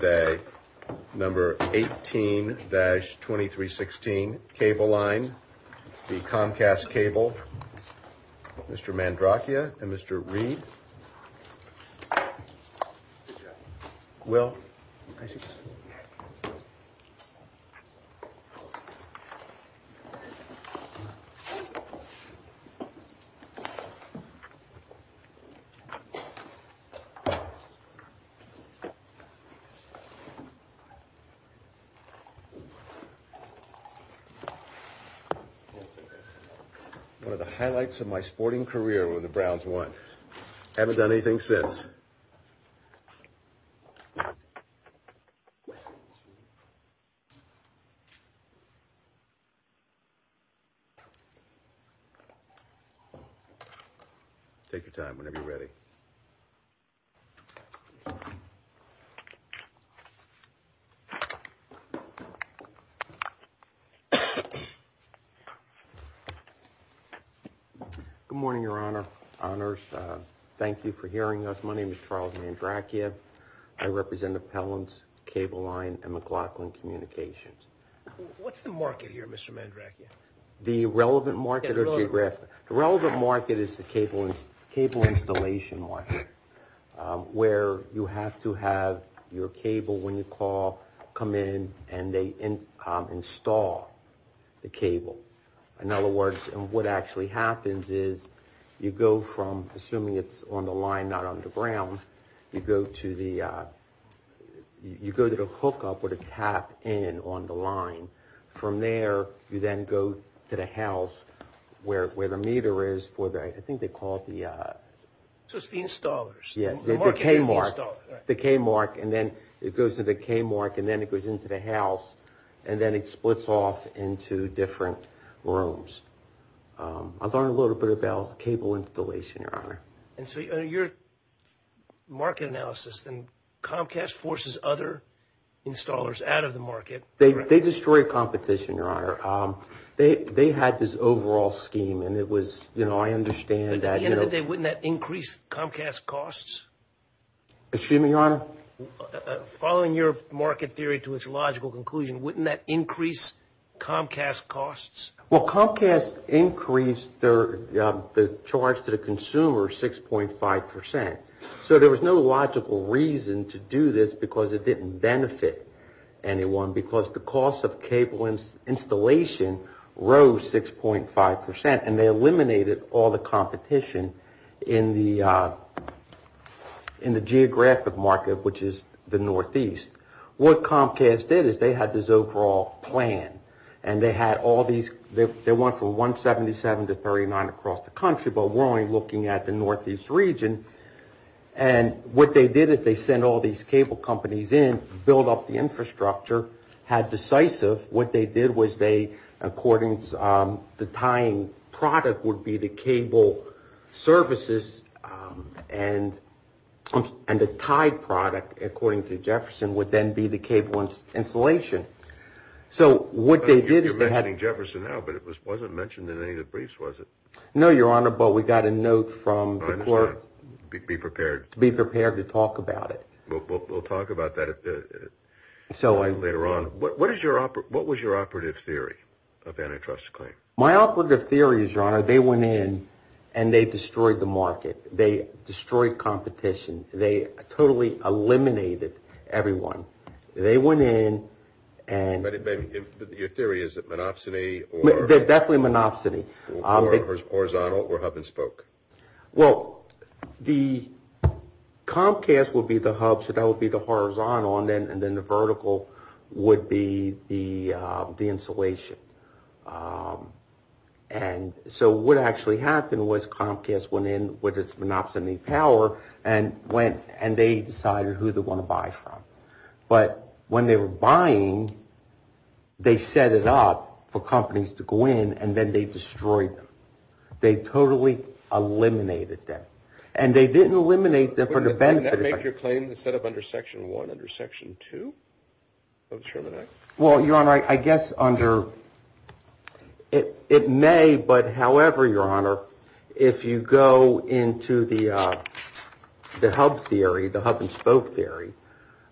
Day number 18-2316 Cable Line v. Comcast Cable. Mr. Mandracchia and Mr. Reed. One of the highlights of my sporting career were the Browns won. Haven't done anything since. Take your time whenever you're ready. Good morning, Your Honor. Honors. Thank you for hearing us. My name is Charles Mandracchia. I represent Appellants, Cable Line and McLaughlin Communications. What's the market here, Mr. Mandracchia? The relevant market is the cable installation market, where you have to have your cable, when you call, come in and they install the cable. In other words, what actually happens is you go from assuming it's on the line, not on the ground. You go to the hookup or the tap in on the line. From there, you then go to the house where the meter is for the, I think they call it the. So it's the installers. The K mark and then it goes to the K mark and then it goes into the house and then it splits off into different rooms. I've learned a little bit about cable installation, Your Honor. And so your market analysis, then Comcast forces other installers out of the market. They destroy competition, Your Honor. They had this overall scheme and it was, you know, I understand that. Wouldn't that increase Comcast's costs? Excuse me, Your Honor? Following your market theory to its logical conclusion, wouldn't that increase Comcast's costs? Well, Comcast increased the charge to the consumer 6.5 percent. So there was no logical reason to do this because it didn't benefit anyone because the cost of cable installation rose 6.5 percent and they eliminated all the competition in the geographic market, which is the northeast. What Comcast did is they had this overall plan and they had all these, they went from 177 to 39 across the country, but we're only looking at the northeast region. And what they did is they sent all these cable companies in, built up the infrastructure, had decisive. What they did was they, according to the tying product, would be the cable services and the tied product, according to Jefferson, would then be the cable installation. So what they did is they had. You're mentioning Jefferson now, but it wasn't mentioned in any of the briefs, was it? No, Your Honor, but we got a note from the clerk. Be prepared. Be prepared to talk about it. We'll talk about that later on. What is your, what was your operative theory of antitrust claim? My operative theory is, Your Honor, they went in and they destroyed the market. They destroyed competition. They totally eliminated everyone. They went in and. But your theory is that monopsony or. Definitely monopsony. Horizontal or hub and spoke. Well, the Comcast would be the hub. So that would be the horizontal and then the vertical would be the installation. And so what actually happened was Comcast went in with its monopsony power and went and they decided who they want to buy from. But when they were buying, they set it up for companies to go in and then they destroyed them. They totally eliminated them. And they didn't eliminate them for the benefit. Did that make your claim set up under Section 1, under Section 2 of the Sherman Act? Well, Your Honor, I guess under. It may, but however, Your Honor, if you go into the hub theory, the hub and spoke theory,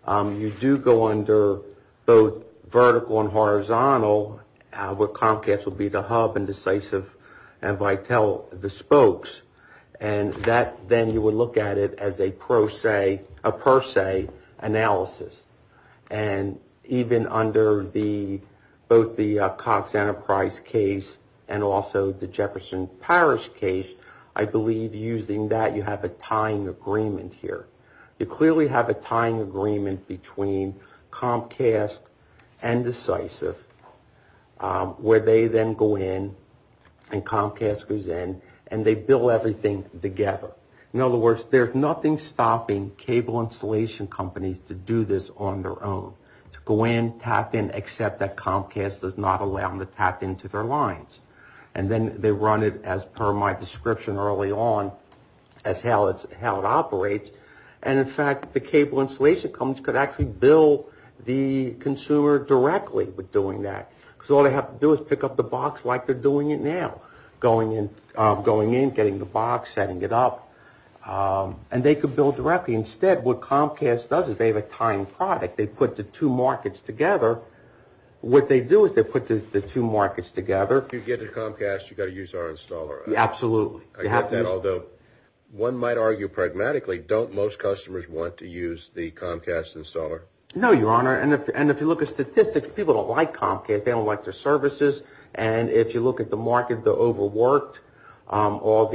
you do go under both vertical and horizontal. Comcast would be the hub and decisive and Vitel the spokes. And that then you would look at it as a per se analysis. And even under both the Cox Enterprise case and also the Jefferson Parish case, I believe using that you have a tying agreement here. You clearly have a tying agreement between Comcast and decisive where they then go in and Comcast goes in and they build everything together. In other words, there's nothing stopping cable installation companies to do this on their own, to go in, tap in, accept that Comcast does not allow them to tap into their lines. And then they run it as per my description early on as how it operates. And, in fact, the cable installation companies could actually bill the consumer directly with doing that. So all they have to do is pick up the box like they're doing it now, going in, getting the box, setting it up. And they could bill directly. Instead, what Comcast does is they have a tying product. They put the two markets together. What they do is they put the two markets together. If you get a Comcast, you've got to use our installer. Absolutely. I get that, although one might argue pragmatically, don't most customers want to use the Comcast installer? No, Your Honor. And if you look at statistics, people don't like Comcast. They don't like their services. And if you look at the market, they're overworked. All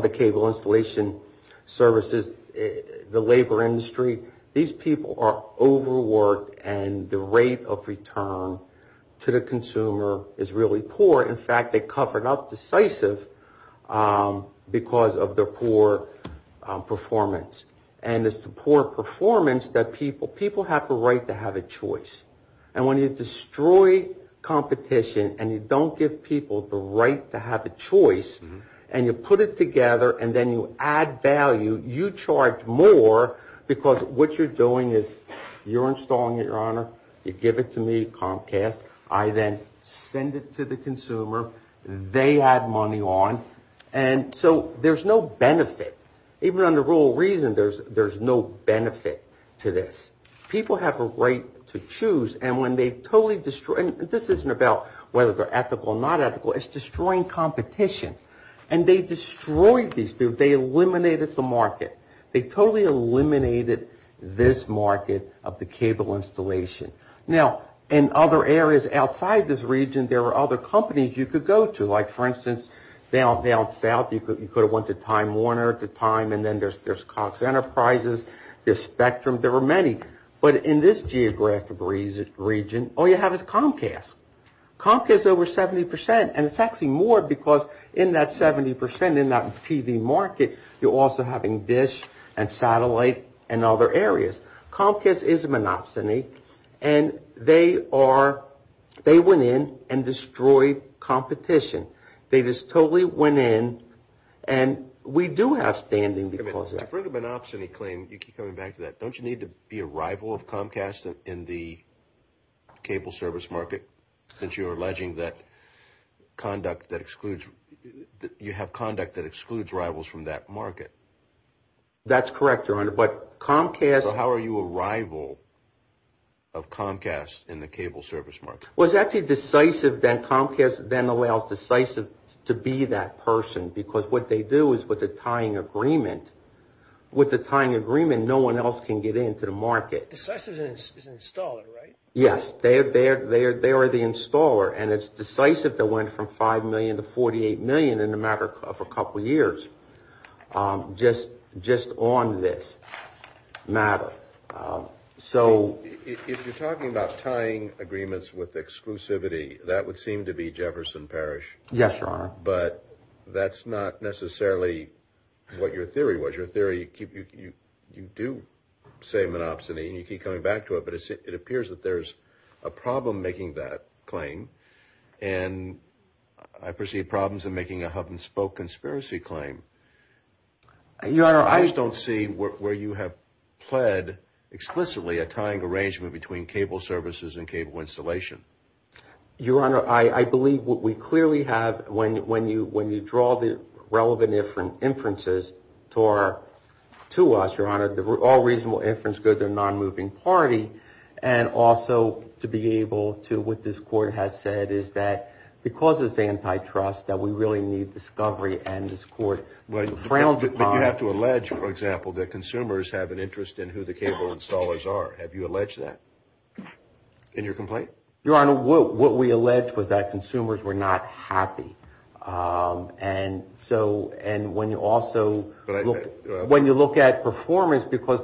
the cable installation services, the labor industry, these people are overworked and the rate of return to the consumer is really poor. In fact, they covered up decisive because of their poor performance. And it's the poor performance that people have the right to have a choice. And when you destroy competition and you don't give people the right to have a choice and you put it together and then you add value, you charge more because what you're doing is you're installing it, Your Honor. You give it to me, Comcast. I then send it to the consumer. They add money on. And so there's no benefit. Even under the rule of reason, there's no benefit to this. People have a right to choose. And this isn't about whether they're ethical or not ethical. It's destroying competition. And they destroyed these. They eliminated the market. They totally eliminated this market of the cable installation. Now, in other areas outside this region, there are other companies you could go to. Like, for instance, down south, you could have went to Time Warner, to Time, and then there's Cox Enterprises, there's Spectrum. There are many. But in this geographic region, all you have is Comcast. Comcast is over 70 percent, and it's actually more because in that 70 percent, in that TV market, you're also having Dish and Satellite and other areas. Comcast is a monopsony, and they went in and destroyed competition. They just totally went in, and we do have standing because of that. I've heard a monopsony claim. You keep coming back to that. Don't you need to be a rival of Comcast in the cable service market, since you're alleging that you have conduct that excludes rivals from that market? That's correct, Your Honor, but Comcast – So how are you a rival of Comcast in the cable service market? Well, it's actually decisive that Comcast then allows Decisive to be that person because what they do is with the tying agreement, with the tying agreement, no one else can get into the market. Decisive is an installer, right? Yes, they are the installer, and it's Decisive that went from $5 million to $48 million in a matter of a couple years just on this matter. If you're talking about tying agreements with exclusivity, that would seem to be Jefferson Parish. Yes, Your Honor. But that's not necessarily what your theory was. Your theory, you do say monopsony, and you keep coming back to it, but it appears that there's a problem making that claim, and I perceive problems in making a hub-and-spoke conspiracy claim. Your Honor, I – I just don't see where you have pled explicitly a tying arrangement between cable services and cable installation. Your Honor, I believe we clearly have, when you draw the relevant inferences to us, Your Honor, all reasonable inference go to the non-moving party, and also to be able to – what this Court has said is that because it's antitrust, that we really need discovery, and this Court frowned upon – But you have to allege, for example, that consumers have an interest in who the cable installers are. Have you alleged that in your complaint? Your Honor, what we allege was that consumers were not happy, and so – and when you also – and that's because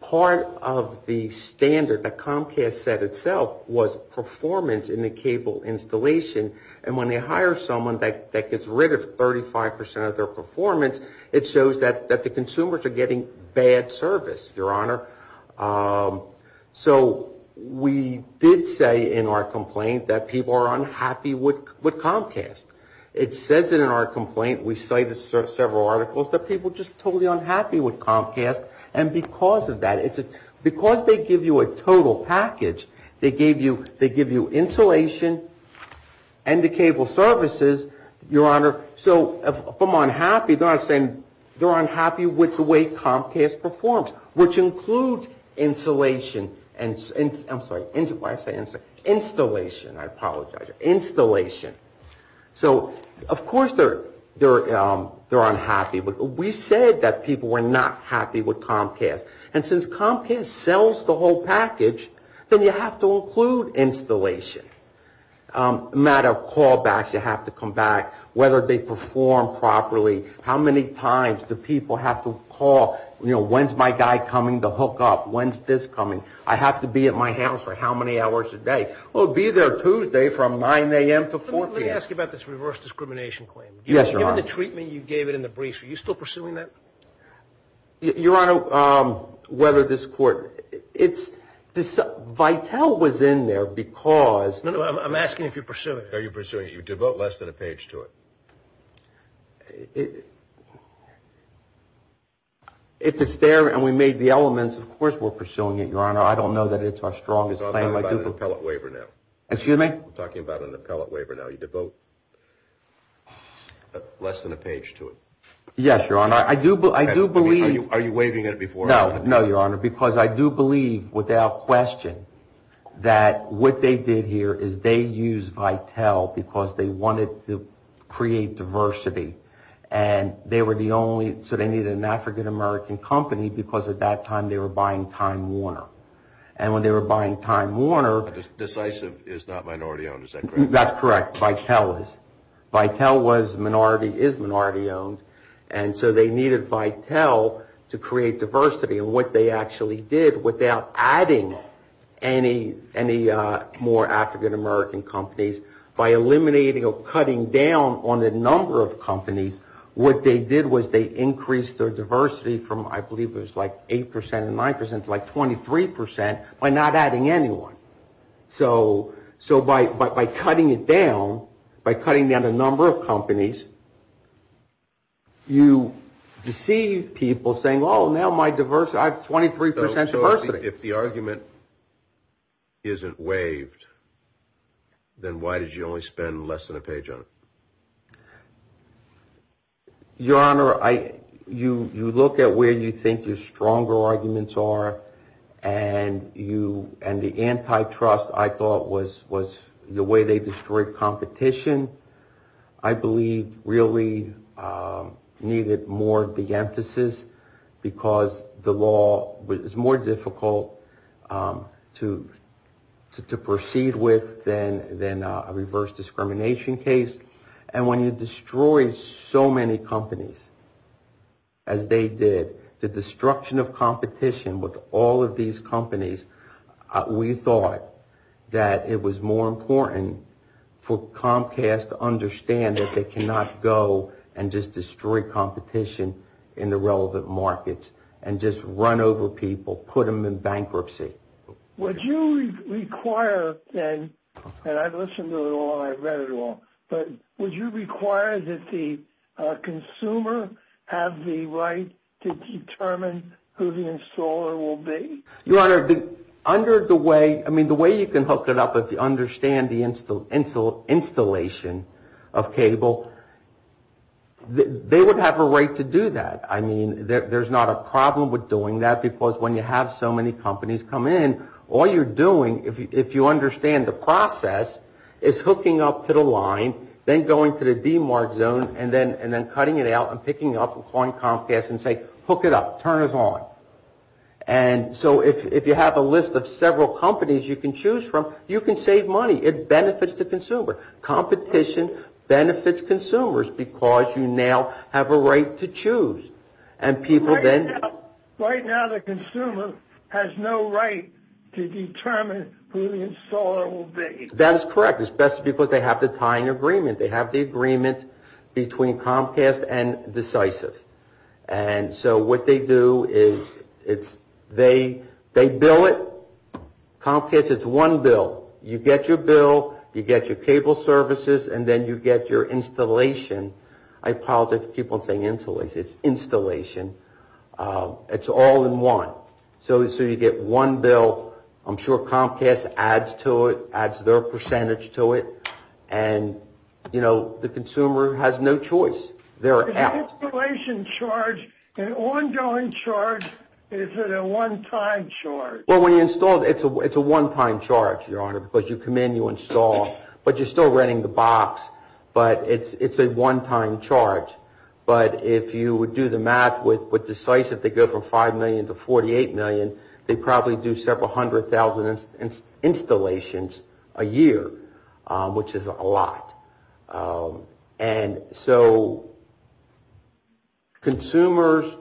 part of the standard that Comcast set itself was performance in the cable installation, and when they hire someone that gets rid of 35 percent of their performance, it shows that the consumers are getting bad service, Your Honor. So we did say in our complaint that people are unhappy with Comcast. It says it in our complaint. We cited several articles that people are just totally unhappy with Comcast, and because of that – because they give you a total package, they give you insulation and the cable services, Your Honor, so if I'm unhappy, they're not saying – they're unhappy with the way Comcast performs, which includes insulation and – I'm sorry. Why do I say insulation? Installation. I apologize. Installation. So, of course, they're unhappy, but we said that people were not happy with Comcast, and since Comcast sells the whole package, then you have to include installation. A matter of callbacks, you have to come back, whether they perform properly, how many times do people have to call? You know, when's my guy coming to hook up? When's this coming? I have to be at my house for how many hours a day? Oh, be there Tuesday from 9 a.m. to 4 p.m. Let me ask you about this reverse discrimination claim. Yes, Your Honor. Given the treatment you gave it in the brief, are you still pursuing that? Your Honor, whether this court – it's – Vitel was in there because – No, no, I'm asking if you're pursuing it. Are you pursuing it? You devote less than a page to it. If it's there and we made the elements, of course we're pursuing it, Your Honor. I don't know that it's our strongest claim. I'm talking about an appellate waiver now. Excuse me? I'm talking about an appellate waiver now. You devote less than a page to it. Yes, Your Honor. I do believe – Are you waiving it before – No, no, Your Honor, because I do believe without question that what they did here is they used Vitel because they wanted to create diversity and they were the only – so they needed an African-American company because at that time they were buying Time Warner. And when they were buying Time Warner – Decisive is not minority-owned, is that correct? That's correct. Vitel is. Vitel was minority – is minority-owned. And so they needed Vitel to create diversity. And what they actually did without adding any more African-American companies, by eliminating or cutting down on the number of companies, what they did was they increased their diversity from, I believe it was like 8% and 9%, to like 23% by not adding anyone. So by cutting it down, by cutting down the number of companies, you deceive people saying, oh, now my diversity – I have 23% diversity. So if the argument isn't waived, then why did you only spend less than a page on it? Your Honor, you look at where you think your stronger arguments are and the antitrust I thought was the way they destroyed competition. I believe really needed more of the emphasis because the law was more difficult to proceed with than a reverse discrimination case. And when you destroy so many companies as they did, the destruction of competition with all of these companies, we thought that it was more important for Comcast to understand that they cannot go and just destroy competition in the relevant markets and just run over people, put them in bankruptcy. Would you require then – and I've listened to it all, I've read it all – but would you require that the consumer have the right to determine who the installer will be? Your Honor, under the way – I mean, the way you can hook it up, if you understand the installation of cable, they would have a right to do that. I mean, there's not a problem with doing that because when you have so many companies come in, all you're doing, if you understand the process, is hooking up to the line, then going to the demarked zone and then cutting it out and picking up on Comcast and say, hook it up, turn us on. And so if you have a list of several companies you can choose from, you can save money. It benefits the consumer. Competition benefits consumers because you now have a right to choose. And people then – Right now, the consumer has no right to determine who the installer will be. That is correct, especially because they have the tying agreement. They have the agreement between Comcast and Decisive. And so what they do is they bill it. Comcast, it's one bill. You get your bill, you get your cable services, and then you get your installation. I apologize for people saying installation. It's installation. It's all in one. So you get one bill. I'm sure Comcast adds to it, adds their percentage to it. And, you know, the consumer has no choice. Is the installation charge an ongoing charge? Is it a one-time charge? Well, when you install it, it's a one-time charge, Your Honor, because you come in, you install, but you're still renting the box. But it's a one-time charge. But if you would do the math with Decisive, they go from $5 million to $48 million. They probably do several hundred thousand installations a year, which is a lot. And so consumers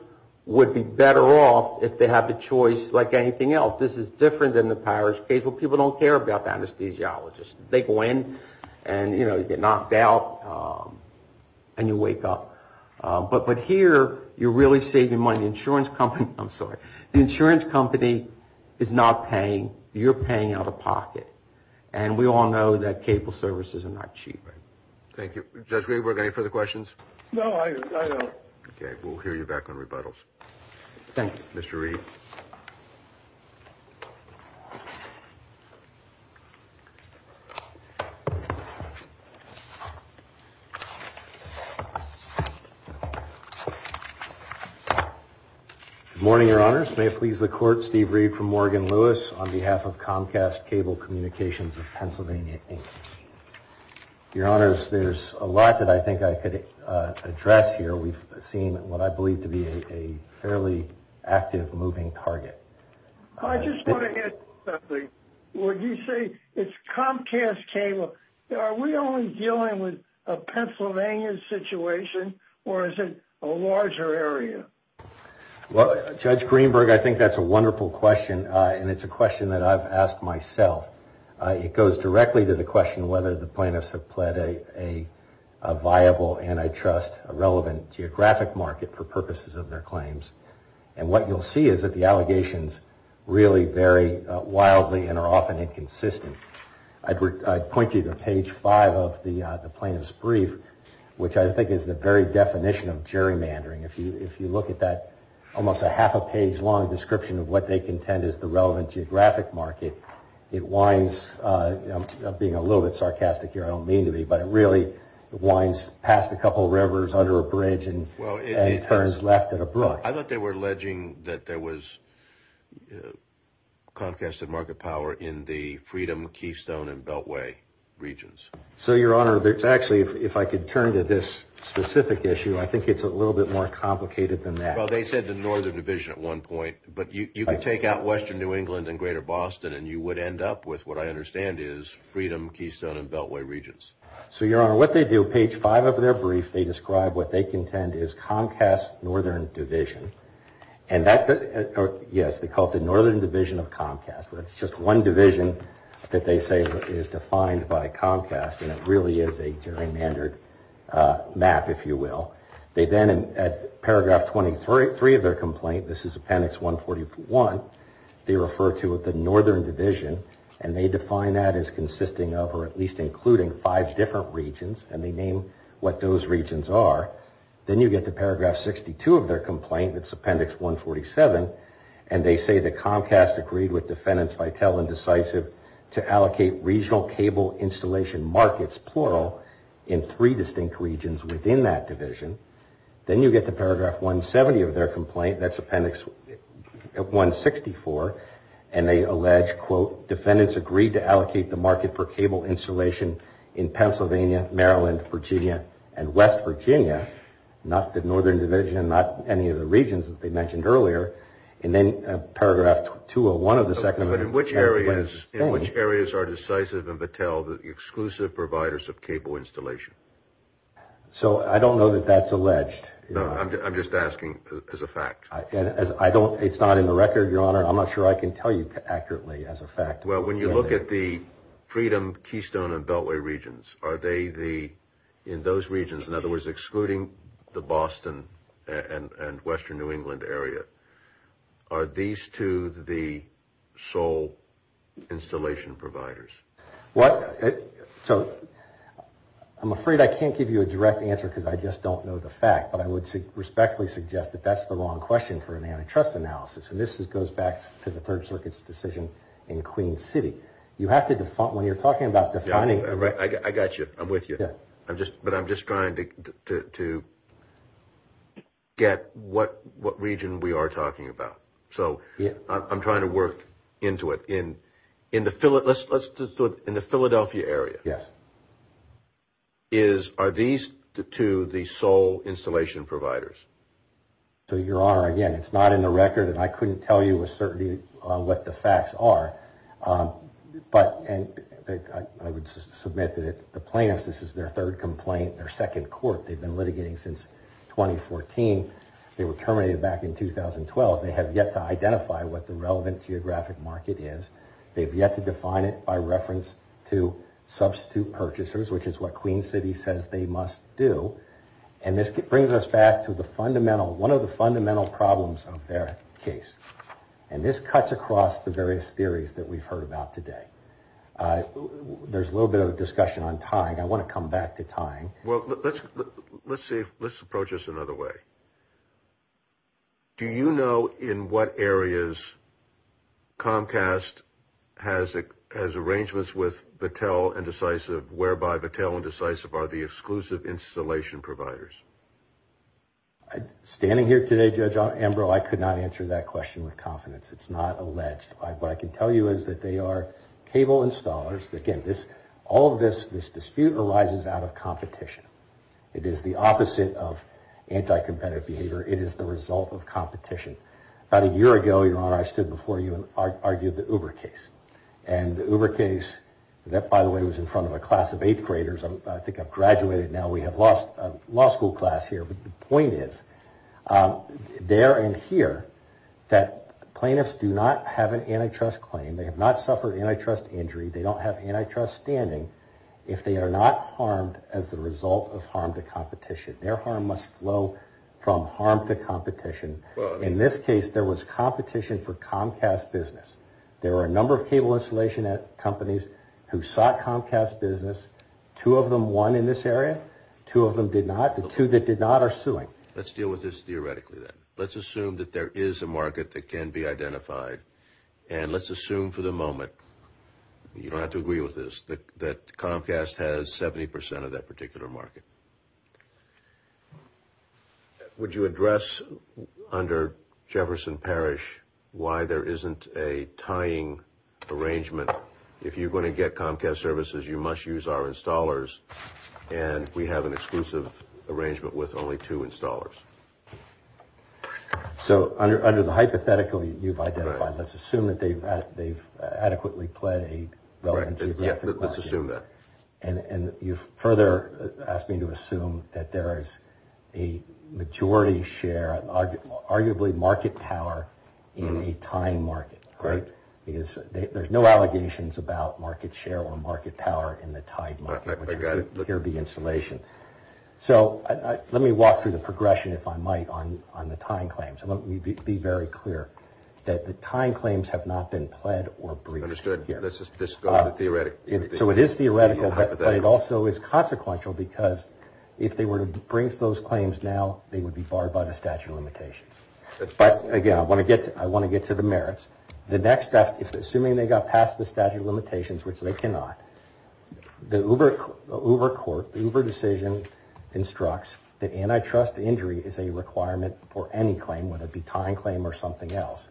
would be better off if they have the choice like anything else. This is different than the pirate's case where people don't care about the anesthesiologist. They go in and, you know, you get knocked out and you wake up. But here you're really saving money. The insurance company is not paying. You're paying out of pocket. And we all know that cable services are not cheap. Thank you. Judge Riedberg, any further questions? No, I don't. Okay. We'll hear you back on rebuttals. Thank you. Mr. Ried. Good morning, Your Honors. May it please the Court, Steve Ried from Morgan Lewis on behalf of Comcast Cable Communications of Pennsylvania, Inc. Your Honors, there's a lot that I think I could address here. We've seen what I believe to be a fairly active, moving target. I just want to hit something. When you say it's Comcast Cable, are we only dealing with a Pennsylvania situation or is it a larger area? Well, Judge Greenberg, I think that's a wonderful question. And it's a question that I've asked myself. It goes directly to the question whether the plaintiffs have pled a viable antitrust, a relevant geographic market for purposes of their claims. And what you'll see is that the allegations really vary wildly and are often inconsistent. I'd point you to page five of the plaintiff's brief, which I think is the very definition of gerrymandering. If you look at that almost a half a page long description of what they contend is the relevant geographic market, it winds up being a little bit sarcastic here. I don't mean to be, but it really winds past a couple rivers under a bridge and turns left at a brook. I thought they were alleging that there was Comcast and Market Power in the Freedom, Keystone, and Beltway regions. So, Your Honor, actually, if I could turn to this specific issue, I think it's a little bit more complicated than that. Well, they said the Northern Division at one point, but you could take out western New England and greater Boston and you would end up with what I understand is Freedom, Keystone, and Beltway regions. So, Your Honor, what they do, page five of their brief, they describe what they contend is Comcast Northern Division. Yes, they call it the Northern Division of Comcast, but it's just one division that they say is defined by Comcast, and it really is a gerrymandered map, if you will. They then, at paragraph 23 of their complaint, this is appendix 141, they refer to the Northern Division, and they define that as consisting of or at least including five different regions, and they name what those regions are. Then you get to paragraph 62 of their complaint, it's appendix 147, and they say that Comcast agreed with defendants Vital and Decisive to allocate regional cable installation markets, plural, in three distinct regions within that division. Then you get to paragraph 170 of their complaint, that's appendix 164, and they allege, quote, defendants agreed to allocate the market for cable installation in Pennsylvania, Maryland, Virginia, and West Virginia, not the Northern Division, not any of the regions that they mentioned earlier, and then paragraph 201 of the second of their complaint. But in which areas are Decisive and Battelle the exclusive providers of cable installation? So I don't know that that's alleged. No, I'm just asking as a fact. I don't, it's not in the record, Your Honor, I'm not sure I can tell you accurately as a fact. Well, when you look at the Freedom, Keystone, and Beltway regions, are they the, in those regions, in other words, excluding the Boston and Western New England area, are these two the sole installation providers? What? So, I'm afraid I can't give you a direct answer because I just don't know the fact, but I would respectfully suggest that that's the wrong question for an antitrust analysis, and this goes back to the Third Circuit's decision in Queen City. You have to define, when you're talking about defining... I got you, I'm with you, but I'm just trying to get what region we are talking about. So, I'm trying to work into it. In the Philadelphia area, are these the two the sole installation providers? So, Your Honor, again, it's not in the record, and I couldn't tell you with certainty what the facts are, but I would submit that the plaintiffs, this is their third complaint, their second court. They've been litigating since 2014. They were terminated back in 2012. They have yet to identify what the relevant geographic market is. They have yet to define it by reference to substitute purchasers, which is what Queen City says they must do, and this brings us back to the fundamental, one of the fundamental problems of their case, and this cuts across the various theories that we've heard about today. There's a little bit of a discussion on tying. I want to come back to tying. Well, let's approach this another way. Do you know in what areas Comcast has arrangements with Vattel and Decisive, whereby Vattel and Decisive are the exclusive installation providers? Standing here today, Judge Ambrose, I could not answer that question with confidence. It's not alleged. What I can tell you is that they are cable installers. Again, all of this dispute arises out of competition. It is the opposite of anti-competitive behavior. It is the result of competition. About a year ago, Your Honor, I stood before you and argued the Uber case, and the Uber case, that, by the way, was in front of a class of eighth graders. I think I've graduated now. We have lost a law school class here. But the point is, there and here, that plaintiffs do not have an antitrust claim. They have not suffered antitrust injury. They don't have antitrust standing if they are not harmed as the result of harm to competition. Their harm must flow from harm to competition. In this case, there was competition for Comcast business. There were a number of cable installation companies who sought Comcast business. Two of them won in this area. Two of them did not. The two that did not are suing. Let's deal with this theoretically, then. Let's assume that there is a market that can be identified. And let's assume for the moment, you don't have to agree with this, that Comcast has 70% of that particular market. Would you address under Jefferson Parish why there isn't a tying arrangement? If you're going to get Comcast services, you must use our installers. And we have an exclusive arrangement with only two installers. So under the hypothetical you've identified, let's assume that they've adequately played a relevancy. Let's assume that. And you've further asked me to assume that there is a majority share, arguably market power, in a tying market. Right? Because there's no allegations about market share or market power in the tied market. I got it. Here would be installation. So let me walk through the progression, if I might, on the tying claims. Let me be very clear that the tying claims have not been pled or briefed. Understood. Let's just go with the theoretical. So it is theoretical, but it also is consequential because if they were to bring those claims now, they would be barred by the statute of limitations. Again, I want to get to the merits. The next step, assuming they got past the statute of limitations, which they cannot, the Uber court, the Uber decision instructs that antitrust injury is a requirement for any claim, whether it be tying claim or something else.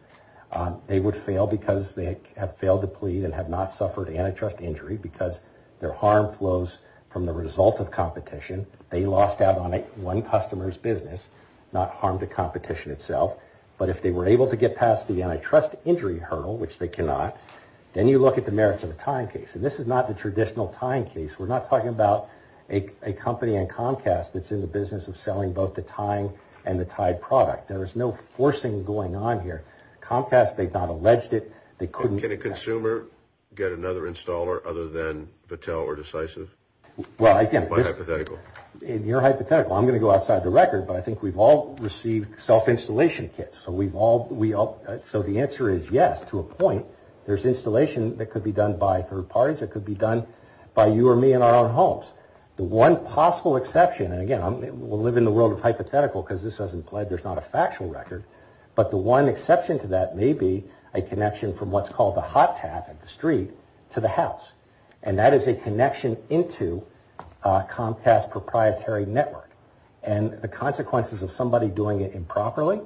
They would fail because they have failed to plead and have not suffered antitrust injury because their harm flows from the result of competition. They lost out on one customer's business, not harm to competition itself. But if they were able to get past the antitrust injury hurdle, which they cannot, then you look at the merits of a tying case. And this is not the traditional tying case. We're not talking about a company in Comcast that's in the business of selling both the tying and the tied product. There is no forcing going on here. Comcast, they've not alleged it. They couldn't get it. Can a consumer get another installer other than Battelle or Decisive? Well, again, you're hypothetical. I'm going to go outside the record, but I think we've all received self-installation kits. So the answer is yes to a point. There's installation that could be done by third parties. It could be done by you or me in our own homes. The one possible exception, and, again, we'll live in the world of hypothetical because this hasn't played. There's not a factual record. But the one exception to that may be a connection from what's called the hot tab at the street to the house. And that is a connection into Comcast's proprietary network. And the consequences of somebody doing it improperly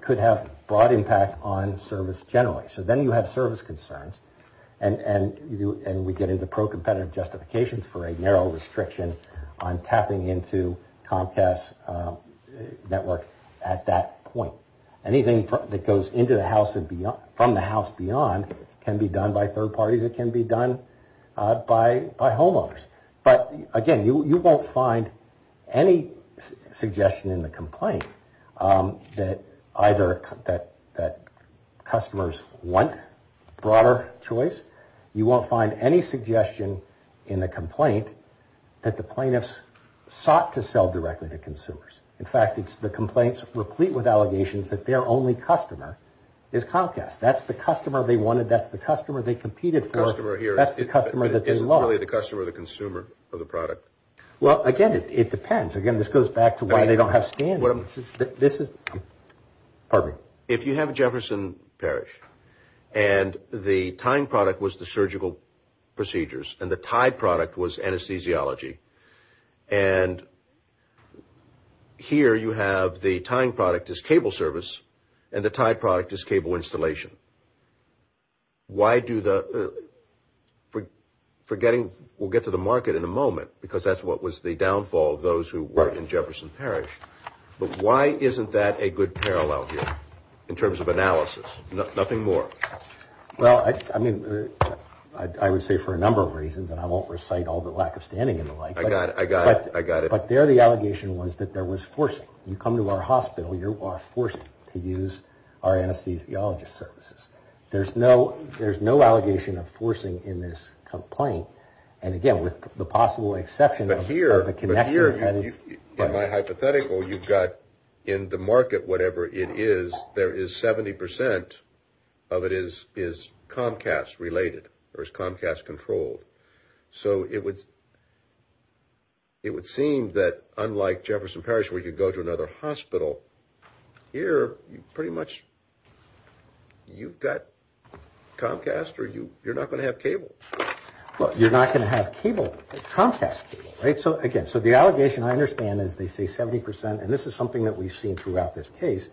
could have broad impact on service generally. So then you have service concerns. And we get into pro-competitive justifications for a narrow restriction on tapping into Comcast's network at that point. Anything that goes from the house beyond can be done by third parties. It can be done by homeowners. But, again, you won't find any suggestion in the complaint that either customers want broader choice. You won't find any suggestion in the complaint that the plaintiffs sought to sell directly to consumers. In fact, the complaints replete with allegations that their only customer is Comcast. That's the customer they wanted. That's the customer they competed for. That's the customer that they lost. But it isn't really the customer or the consumer of the product. Well, again, it depends. Again, this goes back to why they don't have standards. This is – pardon me. If you have Jefferson Parish and the tying product was the surgical procedures and the tie product was anesthesiology and here you have the tying product as cable service and the tie product as cable installation, why do the – forgetting we'll get to the market in a moment because that's what was the downfall of those who were in Jefferson Parish, but why isn't that a good parallel here in terms of analysis? Nothing more. Well, I mean, I would say for a number of reasons, and I won't recite all the lack of standing and the like. I got it. I got it. But there the allegation was that there was forcing. You come to our hospital, you are forced to use our anesthesiologist services. There's no allegation of forcing in this complaint, and again, with the possible exception of the connection that is – But here, in my hypothetical, you've got in the market, whatever it is, there is 70 percent of it is Comcast-related or is Comcast-controlled. So it would seem that unlike Jefferson Parish where you go to another hospital, here pretty much you've got Comcast or you're not going to have cable. Well, you're not going to have cable, Comcast cable, right? So again, so the allegation I understand is they say 70 percent, and this is something that we've seen throughout this case,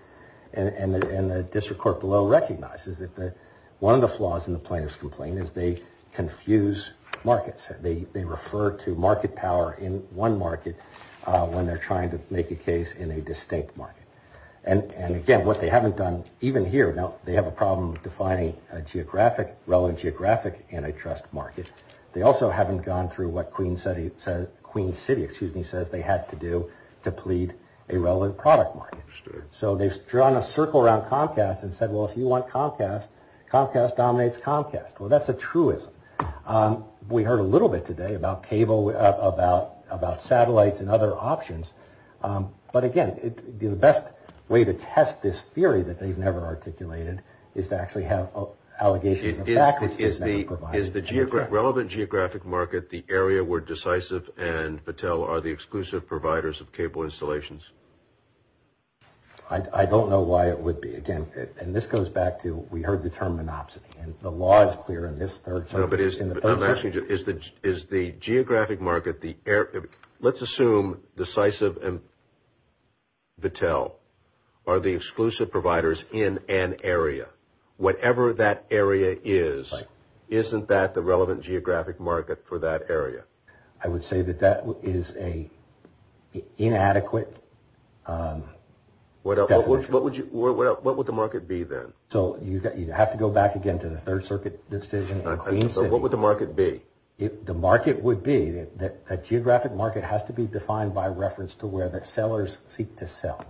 and the district court below recognizes that one of the flaws in the plaintiff's complaint is they confuse markets. They refer to market power in one market when they're trying to make a case in a distinct market. And again, what they haven't done, even here, now they have a problem defining a geographic – relevant geographic antitrust market. They also haven't gone through what Queen City says they had to do to plead a relevant product market. So they've drawn a circle around Comcast and said, well, if you want Comcast, Comcast dominates Comcast. Well, that's a truism. We heard a little bit today about cable, about satellites and other options. But again, the best way to test this theory that they've never articulated is to actually have allegations of fact which they've never provided. Is the relevant geographic market the area where Decisive and Battelle are the exclusive providers of cable installations? I don't know why it would be. Again, and this goes back to we heard the term monopsony. And the law is clear in this third section. No, but I'm asking you, is the geographic market the – let's assume Decisive and Battelle are the exclusive providers in an area. Whatever that area is, isn't that the relevant geographic market for that area? I would say that that is an inadequate definition. What would the market be then? So you'd have to go back again to the Third Circuit decision. So what would the market be? The market would be that a geographic market has to be defined by reference to where the sellers seek to sell.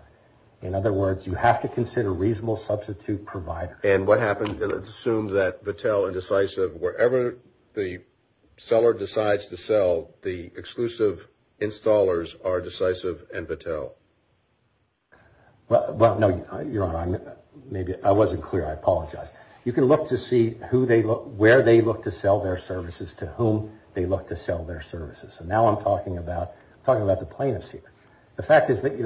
In other words, you have to consider reasonable substitute providers. And what happens – let's assume that Battelle and Decisive, wherever the seller decides to sell, the exclusive installers are Decisive and Battelle. Well, no, Your Honor, I wasn't clear. I apologize. You can look to see where they look to sell their services, to whom they look to sell their services. And now I'm talking about the plaintiffs here. The fact is that,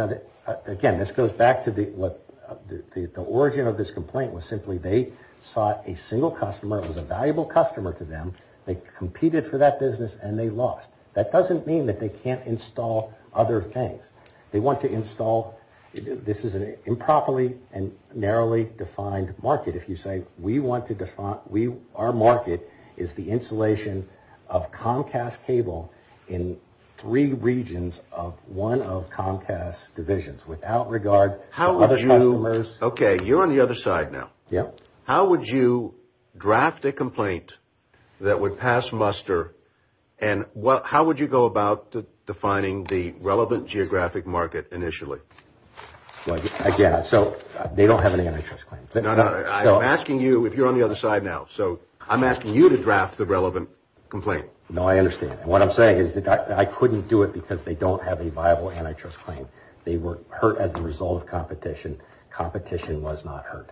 again, this goes back to the origin of this complaint was simply that they sought a single customer who was a valuable customer to them. They competed for that business, and they lost. That doesn't mean that they can't install other things. They want to install – this is an improperly and narrowly defined market. If you say we want to – our market is the installation of Comcast cable in three regions of one of Comcast's divisions without regard to other customers. How would you – okay, you're on the other side now. Yeah. How would you draft a complaint that would pass muster, and how would you go about defining the relevant geographic market initially? Well, again, so they don't have any antitrust claims. No, no, I'm asking you if you're on the other side now. So I'm asking you to draft the relevant complaint. No, I understand. What I'm saying is that I couldn't do it because they don't have a viable antitrust claim. They were hurt as a result of competition. Competition was not hurt.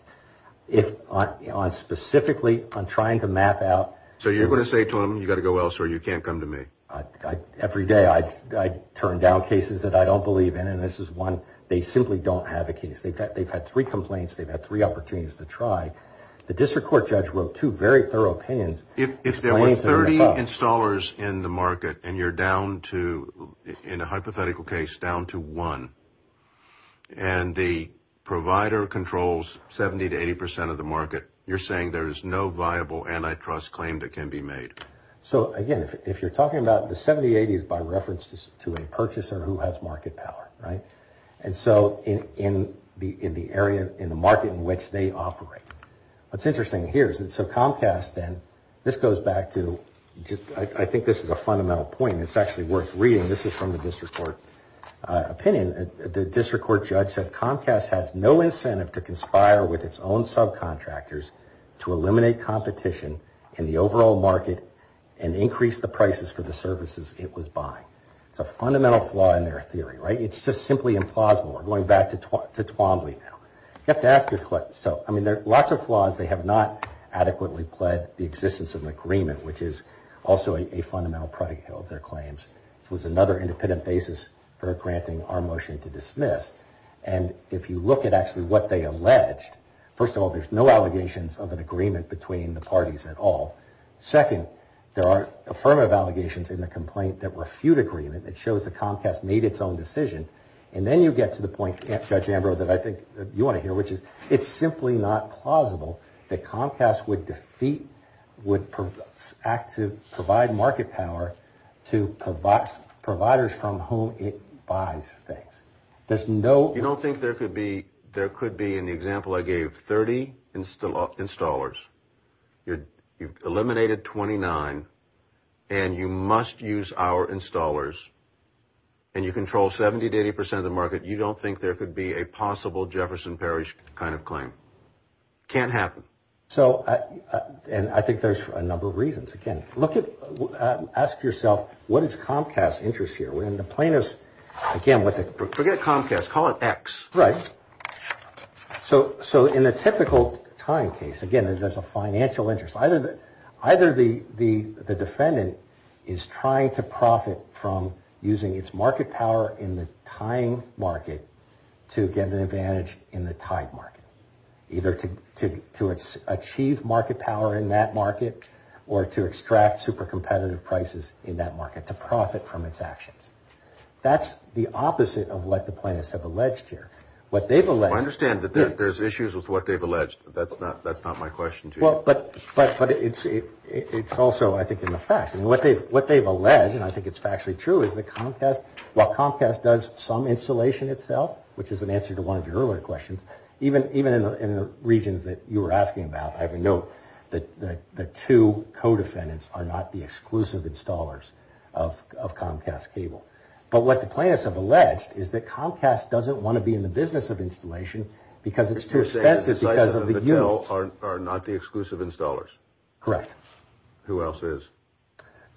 If – on specifically on trying to map out – So you're going to say to them, you've got to go elsewhere, you can't come to me. Every day I turn down cases that I don't believe in, and this is one – they simply don't have a case. They've had three complaints. They've had three opportunities to try. The district court judge wrote two very thorough opinions. If there were 30 installers in the market, and you're down to – in a hypothetical case, down to one, and the provider controls 70% to 80% of the market, you're saying there is no viable antitrust claim that can be made? So, again, if you're talking about the 70-80s by reference to a purchaser who has market power, right? And so in the area – in the market in which they operate. What's interesting here is that so Comcast then – this goes back to – I think this is a fundamental point, and it's actually worth reading. This is from the district court opinion. The district court judge said, Comcast has no incentive to conspire with its own subcontractors to eliminate competition in the overall market and increase the prices for the services it was buying. It's a fundamental flaw in their theory, right? It's just simply implausible. We're going back to Twombly now. You have to ask your – so, I mean, there are lots of flaws. They have not adequately pled the existence of an agreement, which is also a fundamental predicate of their claims. This was another independent basis for granting our motion to dismiss. And if you look at actually what they alleged, first of all, there's no allegations of an agreement between the parties at all. Second, there are affirmative allegations in the complaint that refute agreement. It shows that Comcast made its own decision. And then you get to the point, Judge Ambrose, that I think you want to hear, which is it's simply not plausible that Comcast would defeat – act to provide market power to providers from whom it buys things. There's no – You don't think there could be – there could be, in the example I gave, 30 installers. You've eliminated 29, and you must use our installers, and you control 70 to 80 percent of the market. You don't think there could be a possible Jefferson Parish kind of claim? Can't happen. So – and I think there's a number of reasons. Again, look at – ask yourself, what is Comcast's interest here? When the plaintiff's – again, what the – Forget Comcast. Call it X. Right. So in a typical time case, again, there's a financial interest. Either the defendant is trying to profit from using its market power in the time market to get an advantage in the time market, either to achieve market power in that market or to extract super competitive prices in that market to profit from its actions. That's the opposite of what the plaintiffs have alleged here. What they've alleged – I understand that there's issues with what they've alleged. That's not my question to you. Well, but it's also, I think, in the facts. I mean, what they've alleged, and I think it's factually true, is that Comcast – which is an answer to one of your earlier questions. Even in the regions that you were asking about, I have a note that the two co-defendants are not the exclusive installers of Comcast Cable. But what the plaintiffs have alleged is that Comcast doesn't want to be in the business of installation because it's too expensive because of the units. You're saying the Zeiss and the Battelle are not the exclusive installers? Correct. Who else is?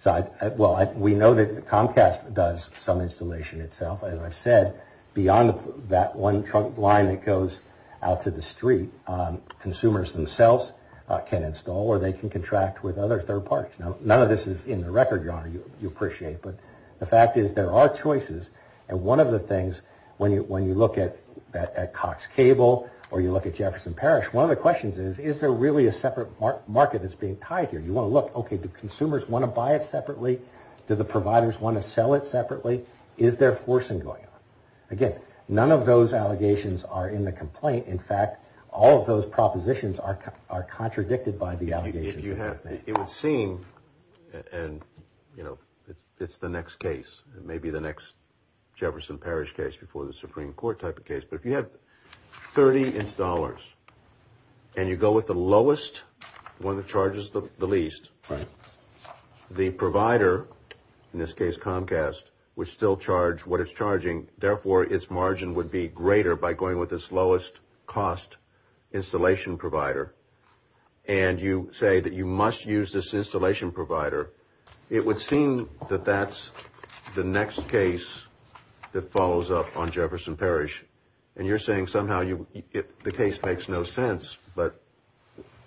Well, we know that Comcast does some installation itself. As I've said, beyond that one trunk line that goes out to the street, consumers themselves can install or they can contract with other third parties. Now, none of this is in the record, Your Honor, you appreciate. But the fact is there are choices. And one of the things, when you look at Cox Cable or you look at Jefferson Parish, one of the questions is, is there really a separate market that's being tied here? You want to look, okay, do consumers want to buy it separately? Do the providers want to sell it separately? Is there forcing going on? Again, none of those allegations are in the complaint. In fact, all of those propositions are contradicted by the allegations. It would seem, and, you know, it's the next case. It may be the next Jefferson Parish case before the Supreme Court type of case. But if you have 30 installers and you go with the lowest, one of the charges, the least, the provider, in this case Comcast, would still charge what it's charging. Therefore, its margin would be greater by going with its lowest cost installation provider. And you say that you must use this installation provider. It would seem that that's the next case that follows up on Jefferson Parish. And you're saying somehow the case makes no sense.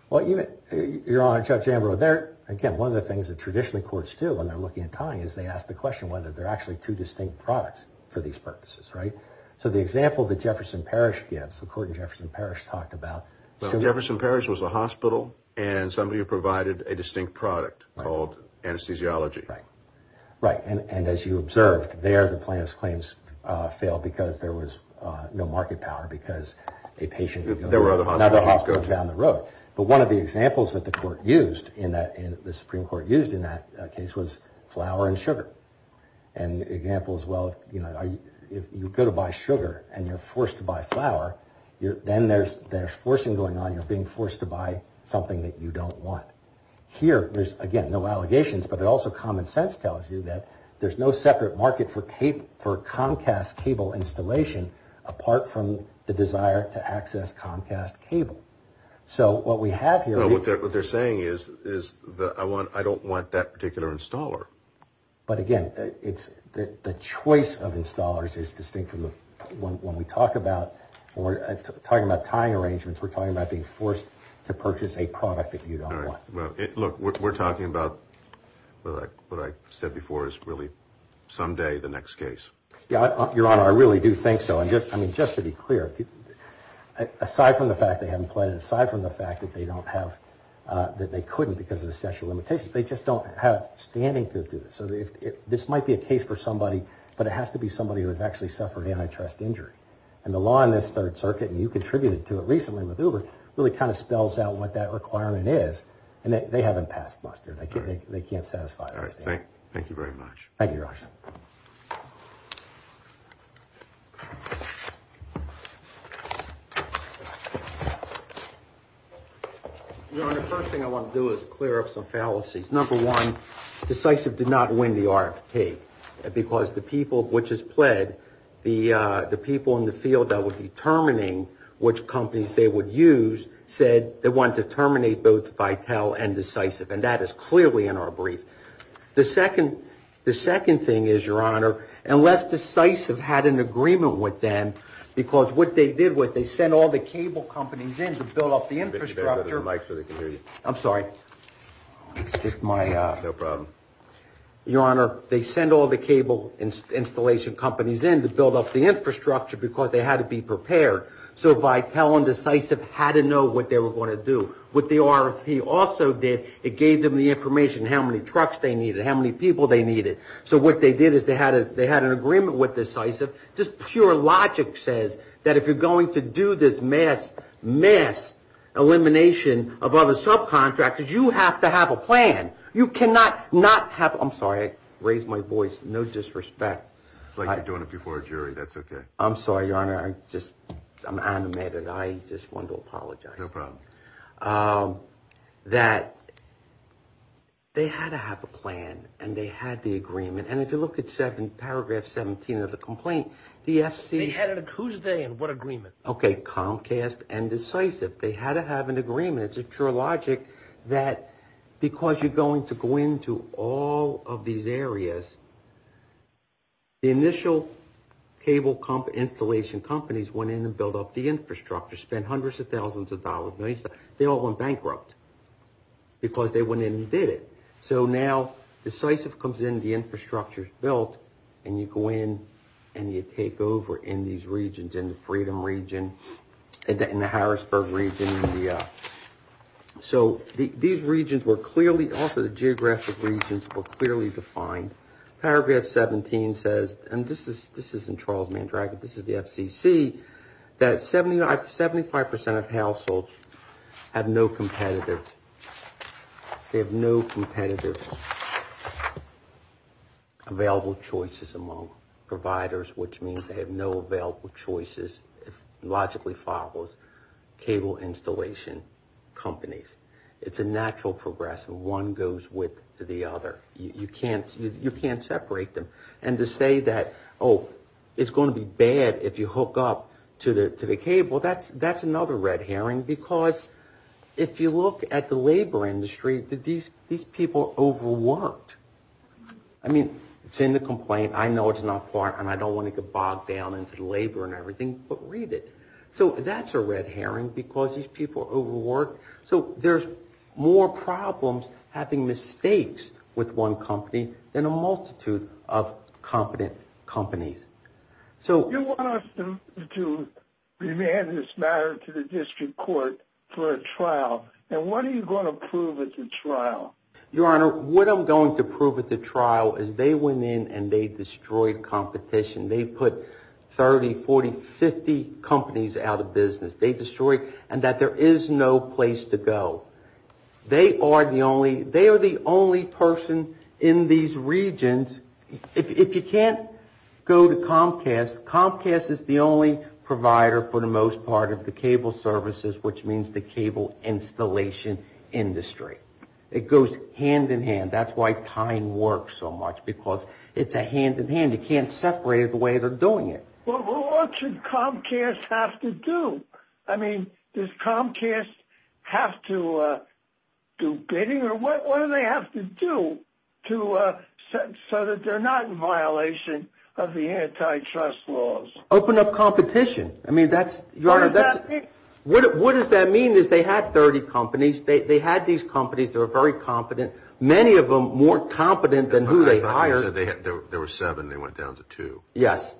Well, Your Honor, Judge Ambrose, there, again, one of the things that traditionally courts do when they're looking at tying is they ask the question whether there are actually two distinct products for these purposes, right? So the example that Jefferson Parish gives, the court in Jefferson Parish talked about. Well, Jefferson Parish was a hospital and somebody who provided a distinct product called anesthesiology. Right. Right. And as you observed, there the plaintiff's claims failed because there was no market power because a patient, another hospital down the road. But one of the examples that the Supreme Court used in that case was flour and sugar. And examples, well, if you go to buy sugar and you're forced to buy flour, then there's forcing going on. You're being forced to buy something that you don't want. Here, there's, again, no allegations, but it also common sense tells you that there's no separate market for Comcast cable installation apart from the desire to access Comcast cable. So what we have here. What they're saying is I don't want that particular installer. But, again, the choice of installers is distinct from when we talk about tying arrangements, we're talking about being forced to purchase a product that you don't want. Look, we're talking about what I said before is really someday the next case. Your Honor, I really do think so. I mean, just to be clear, aside from the fact they haven't pledged, aside from the fact that they couldn't because of the sexual limitations, they just don't have standing to do this. So this might be a case for somebody, but it has to be somebody who has actually suffered antitrust injury. And the law in this Third Circuit, and you contributed to it recently with Uber, really kind of spells out what that requirement is. And they haven't passed muster. They can't satisfy us. Thank you very much. Thank you, Your Honor. Your Honor, the first thing I want to do is clear up some fallacies. Number one, Decisive did not win the RFP because the people which has pled, the people in the field that were determining which companies they would use said they wanted to terminate both Vitel and Decisive, and that is clearly in our brief. The second thing is, Your Honor, unless Decisive had an agreement with them, because what they did was they sent all the cable companies in to build up the infrastructure. I'm sorry. It's just my. No problem. Your Honor, they sent all the cable installation companies in to build up the infrastructure because they had to be prepared. So Vitel and Decisive had to know what they were going to do. What the RFP also did, it gave them the information how many trucks they needed, how many people they needed. So what they did is they had an agreement with Decisive. Just pure logic says that if you're going to do this mass, mass elimination of other subcontractors, you have to have a plan. You cannot not have. I'm sorry. I raised my voice. No disrespect. It's like you're doing it before a jury. That's okay. I'm sorry, Your Honor. I'm animated. I just wanted to apologize. No problem. That they had to have a plan and they had the agreement. And if you look at paragraph 17 of the complaint, the FC. Who's they and what agreement? Okay, Comcast and Decisive. They had to have an agreement. It's a true logic that because you're going to go into all of these areas, the initial cable installation companies went in and built up the infrastructure, spent hundreds of thousands of dollars, millions of dollars. They all went bankrupt because they went in and did it. So now Decisive comes in, the infrastructure is built, and you go in and you take over in these regions, in the Freedom region, in the Harrisburg region. So these regions were clearly, also the geographic regions were clearly defined. Paragraph 17 says, and this isn't Charles Mandrake. This is the FCC. That 75% of households have no competitive available choices among providers, which means they have no available choices, logically follows, cable installation companies. It's a natural progress. One goes with the other. You can't separate them. And to say that, oh, it's going to be bad if you hook up to the cable, that's another red herring because if you look at the labor industry, these people overworked. I mean, it's in the complaint. I know it's not part, and I don't want to get bogged down into the labor and everything, but read it. So that's a red herring because these people overworked. So there's more problems having mistakes with one company than a multitude of competent companies. You want us to demand this matter to the district court for a trial, and what are you going to prove at the trial? Your Honor, what I'm going to prove at the trial is they went in and they destroyed competition. They put 30, 40, 50 companies out of business. They destroyed, and that there is no place to go. They are the only person in these regions, if you can't go to Comcast, Comcast is the only provider for the most part of the cable services, which means the cable installation industry. It goes hand-in-hand. That's why Tyne works so much because it's a hand-in-hand. You can't separate it the way they're doing it. Well, what should Comcast have to do? I mean, does Comcast have to do bidding, or what do they have to do so that they're not in violation of the antitrust laws? Open up competition. Your Honor, what does that mean is they had 30 companies. They had these companies that were very competent. Many of them weren't competent than who they hired. There were seven. They went down to two. Yes.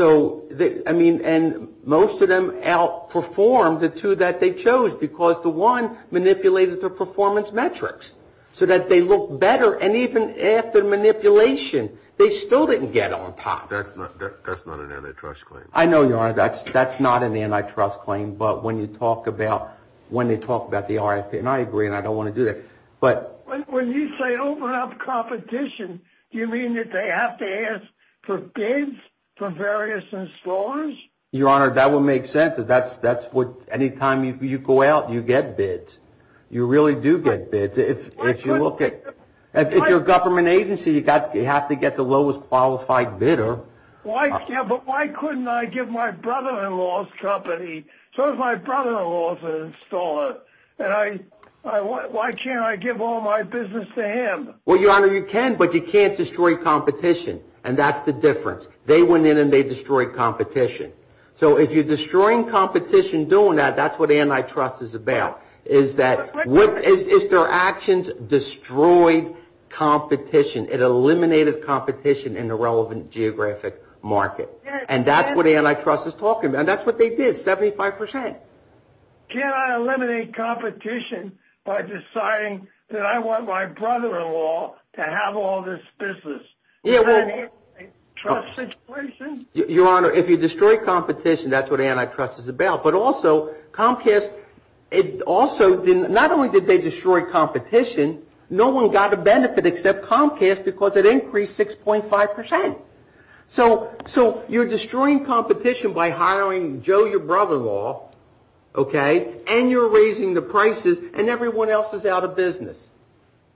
I mean, and most of them outperformed the two that they chose because the one manipulated the performance metrics so that they look better, and even after manipulation, they still didn't get on top. That's not an antitrust claim. I know, Your Honor, that's not an antitrust claim, but when you talk about, when they talk about the RFP, and I agree, and I don't want to do that. When you say open up competition, do you mean that they have to ask for bids from various installers? Your Honor, that would make sense. That's what, anytime you go out, you get bids. You really do get bids. If you look at, if you're a government agency, you have to get the lowest qualified bidder. Yeah, but why couldn't I give my brother-in-law's company, so does my brother-in-law's installer, and why can't I give all my business to him? Well, Your Honor, you can, but you can't destroy competition, and that's the difference. They went in and they destroyed competition. So if you're destroying competition doing that, that's what antitrust is about, is that their actions destroyed competition. It eliminated competition in the relevant geographic market, and that's what antitrust is talking about, and that's what they did. Seventy-five percent. Can I eliminate competition by deciding that I want my brother-in-law to have all this business? Is that an antitrust situation? Your Honor, if you destroy competition, that's what antitrust is about. But also, Comcast, it also, not only did they destroy competition, no one got a benefit except Comcast because it increased 6.5 percent. So you're destroying competition by hiring Joe, your brother-in-law, okay, and you're raising the prices, and everyone else is out of business.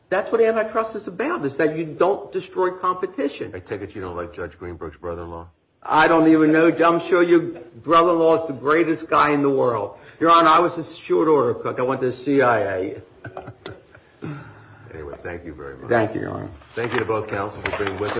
That's what antitrust is about, is that you don't destroy competition. I take it you don't like Judge Greenberg's brother-in-law. I don't even know. I'm sure your brother-in-law is the greatest guy in the world. Your Honor, I was a short order cook. I went to the CIA. Anyway, thank you very much. Thank you, Your Honor. Thank you to both counselors for being with us.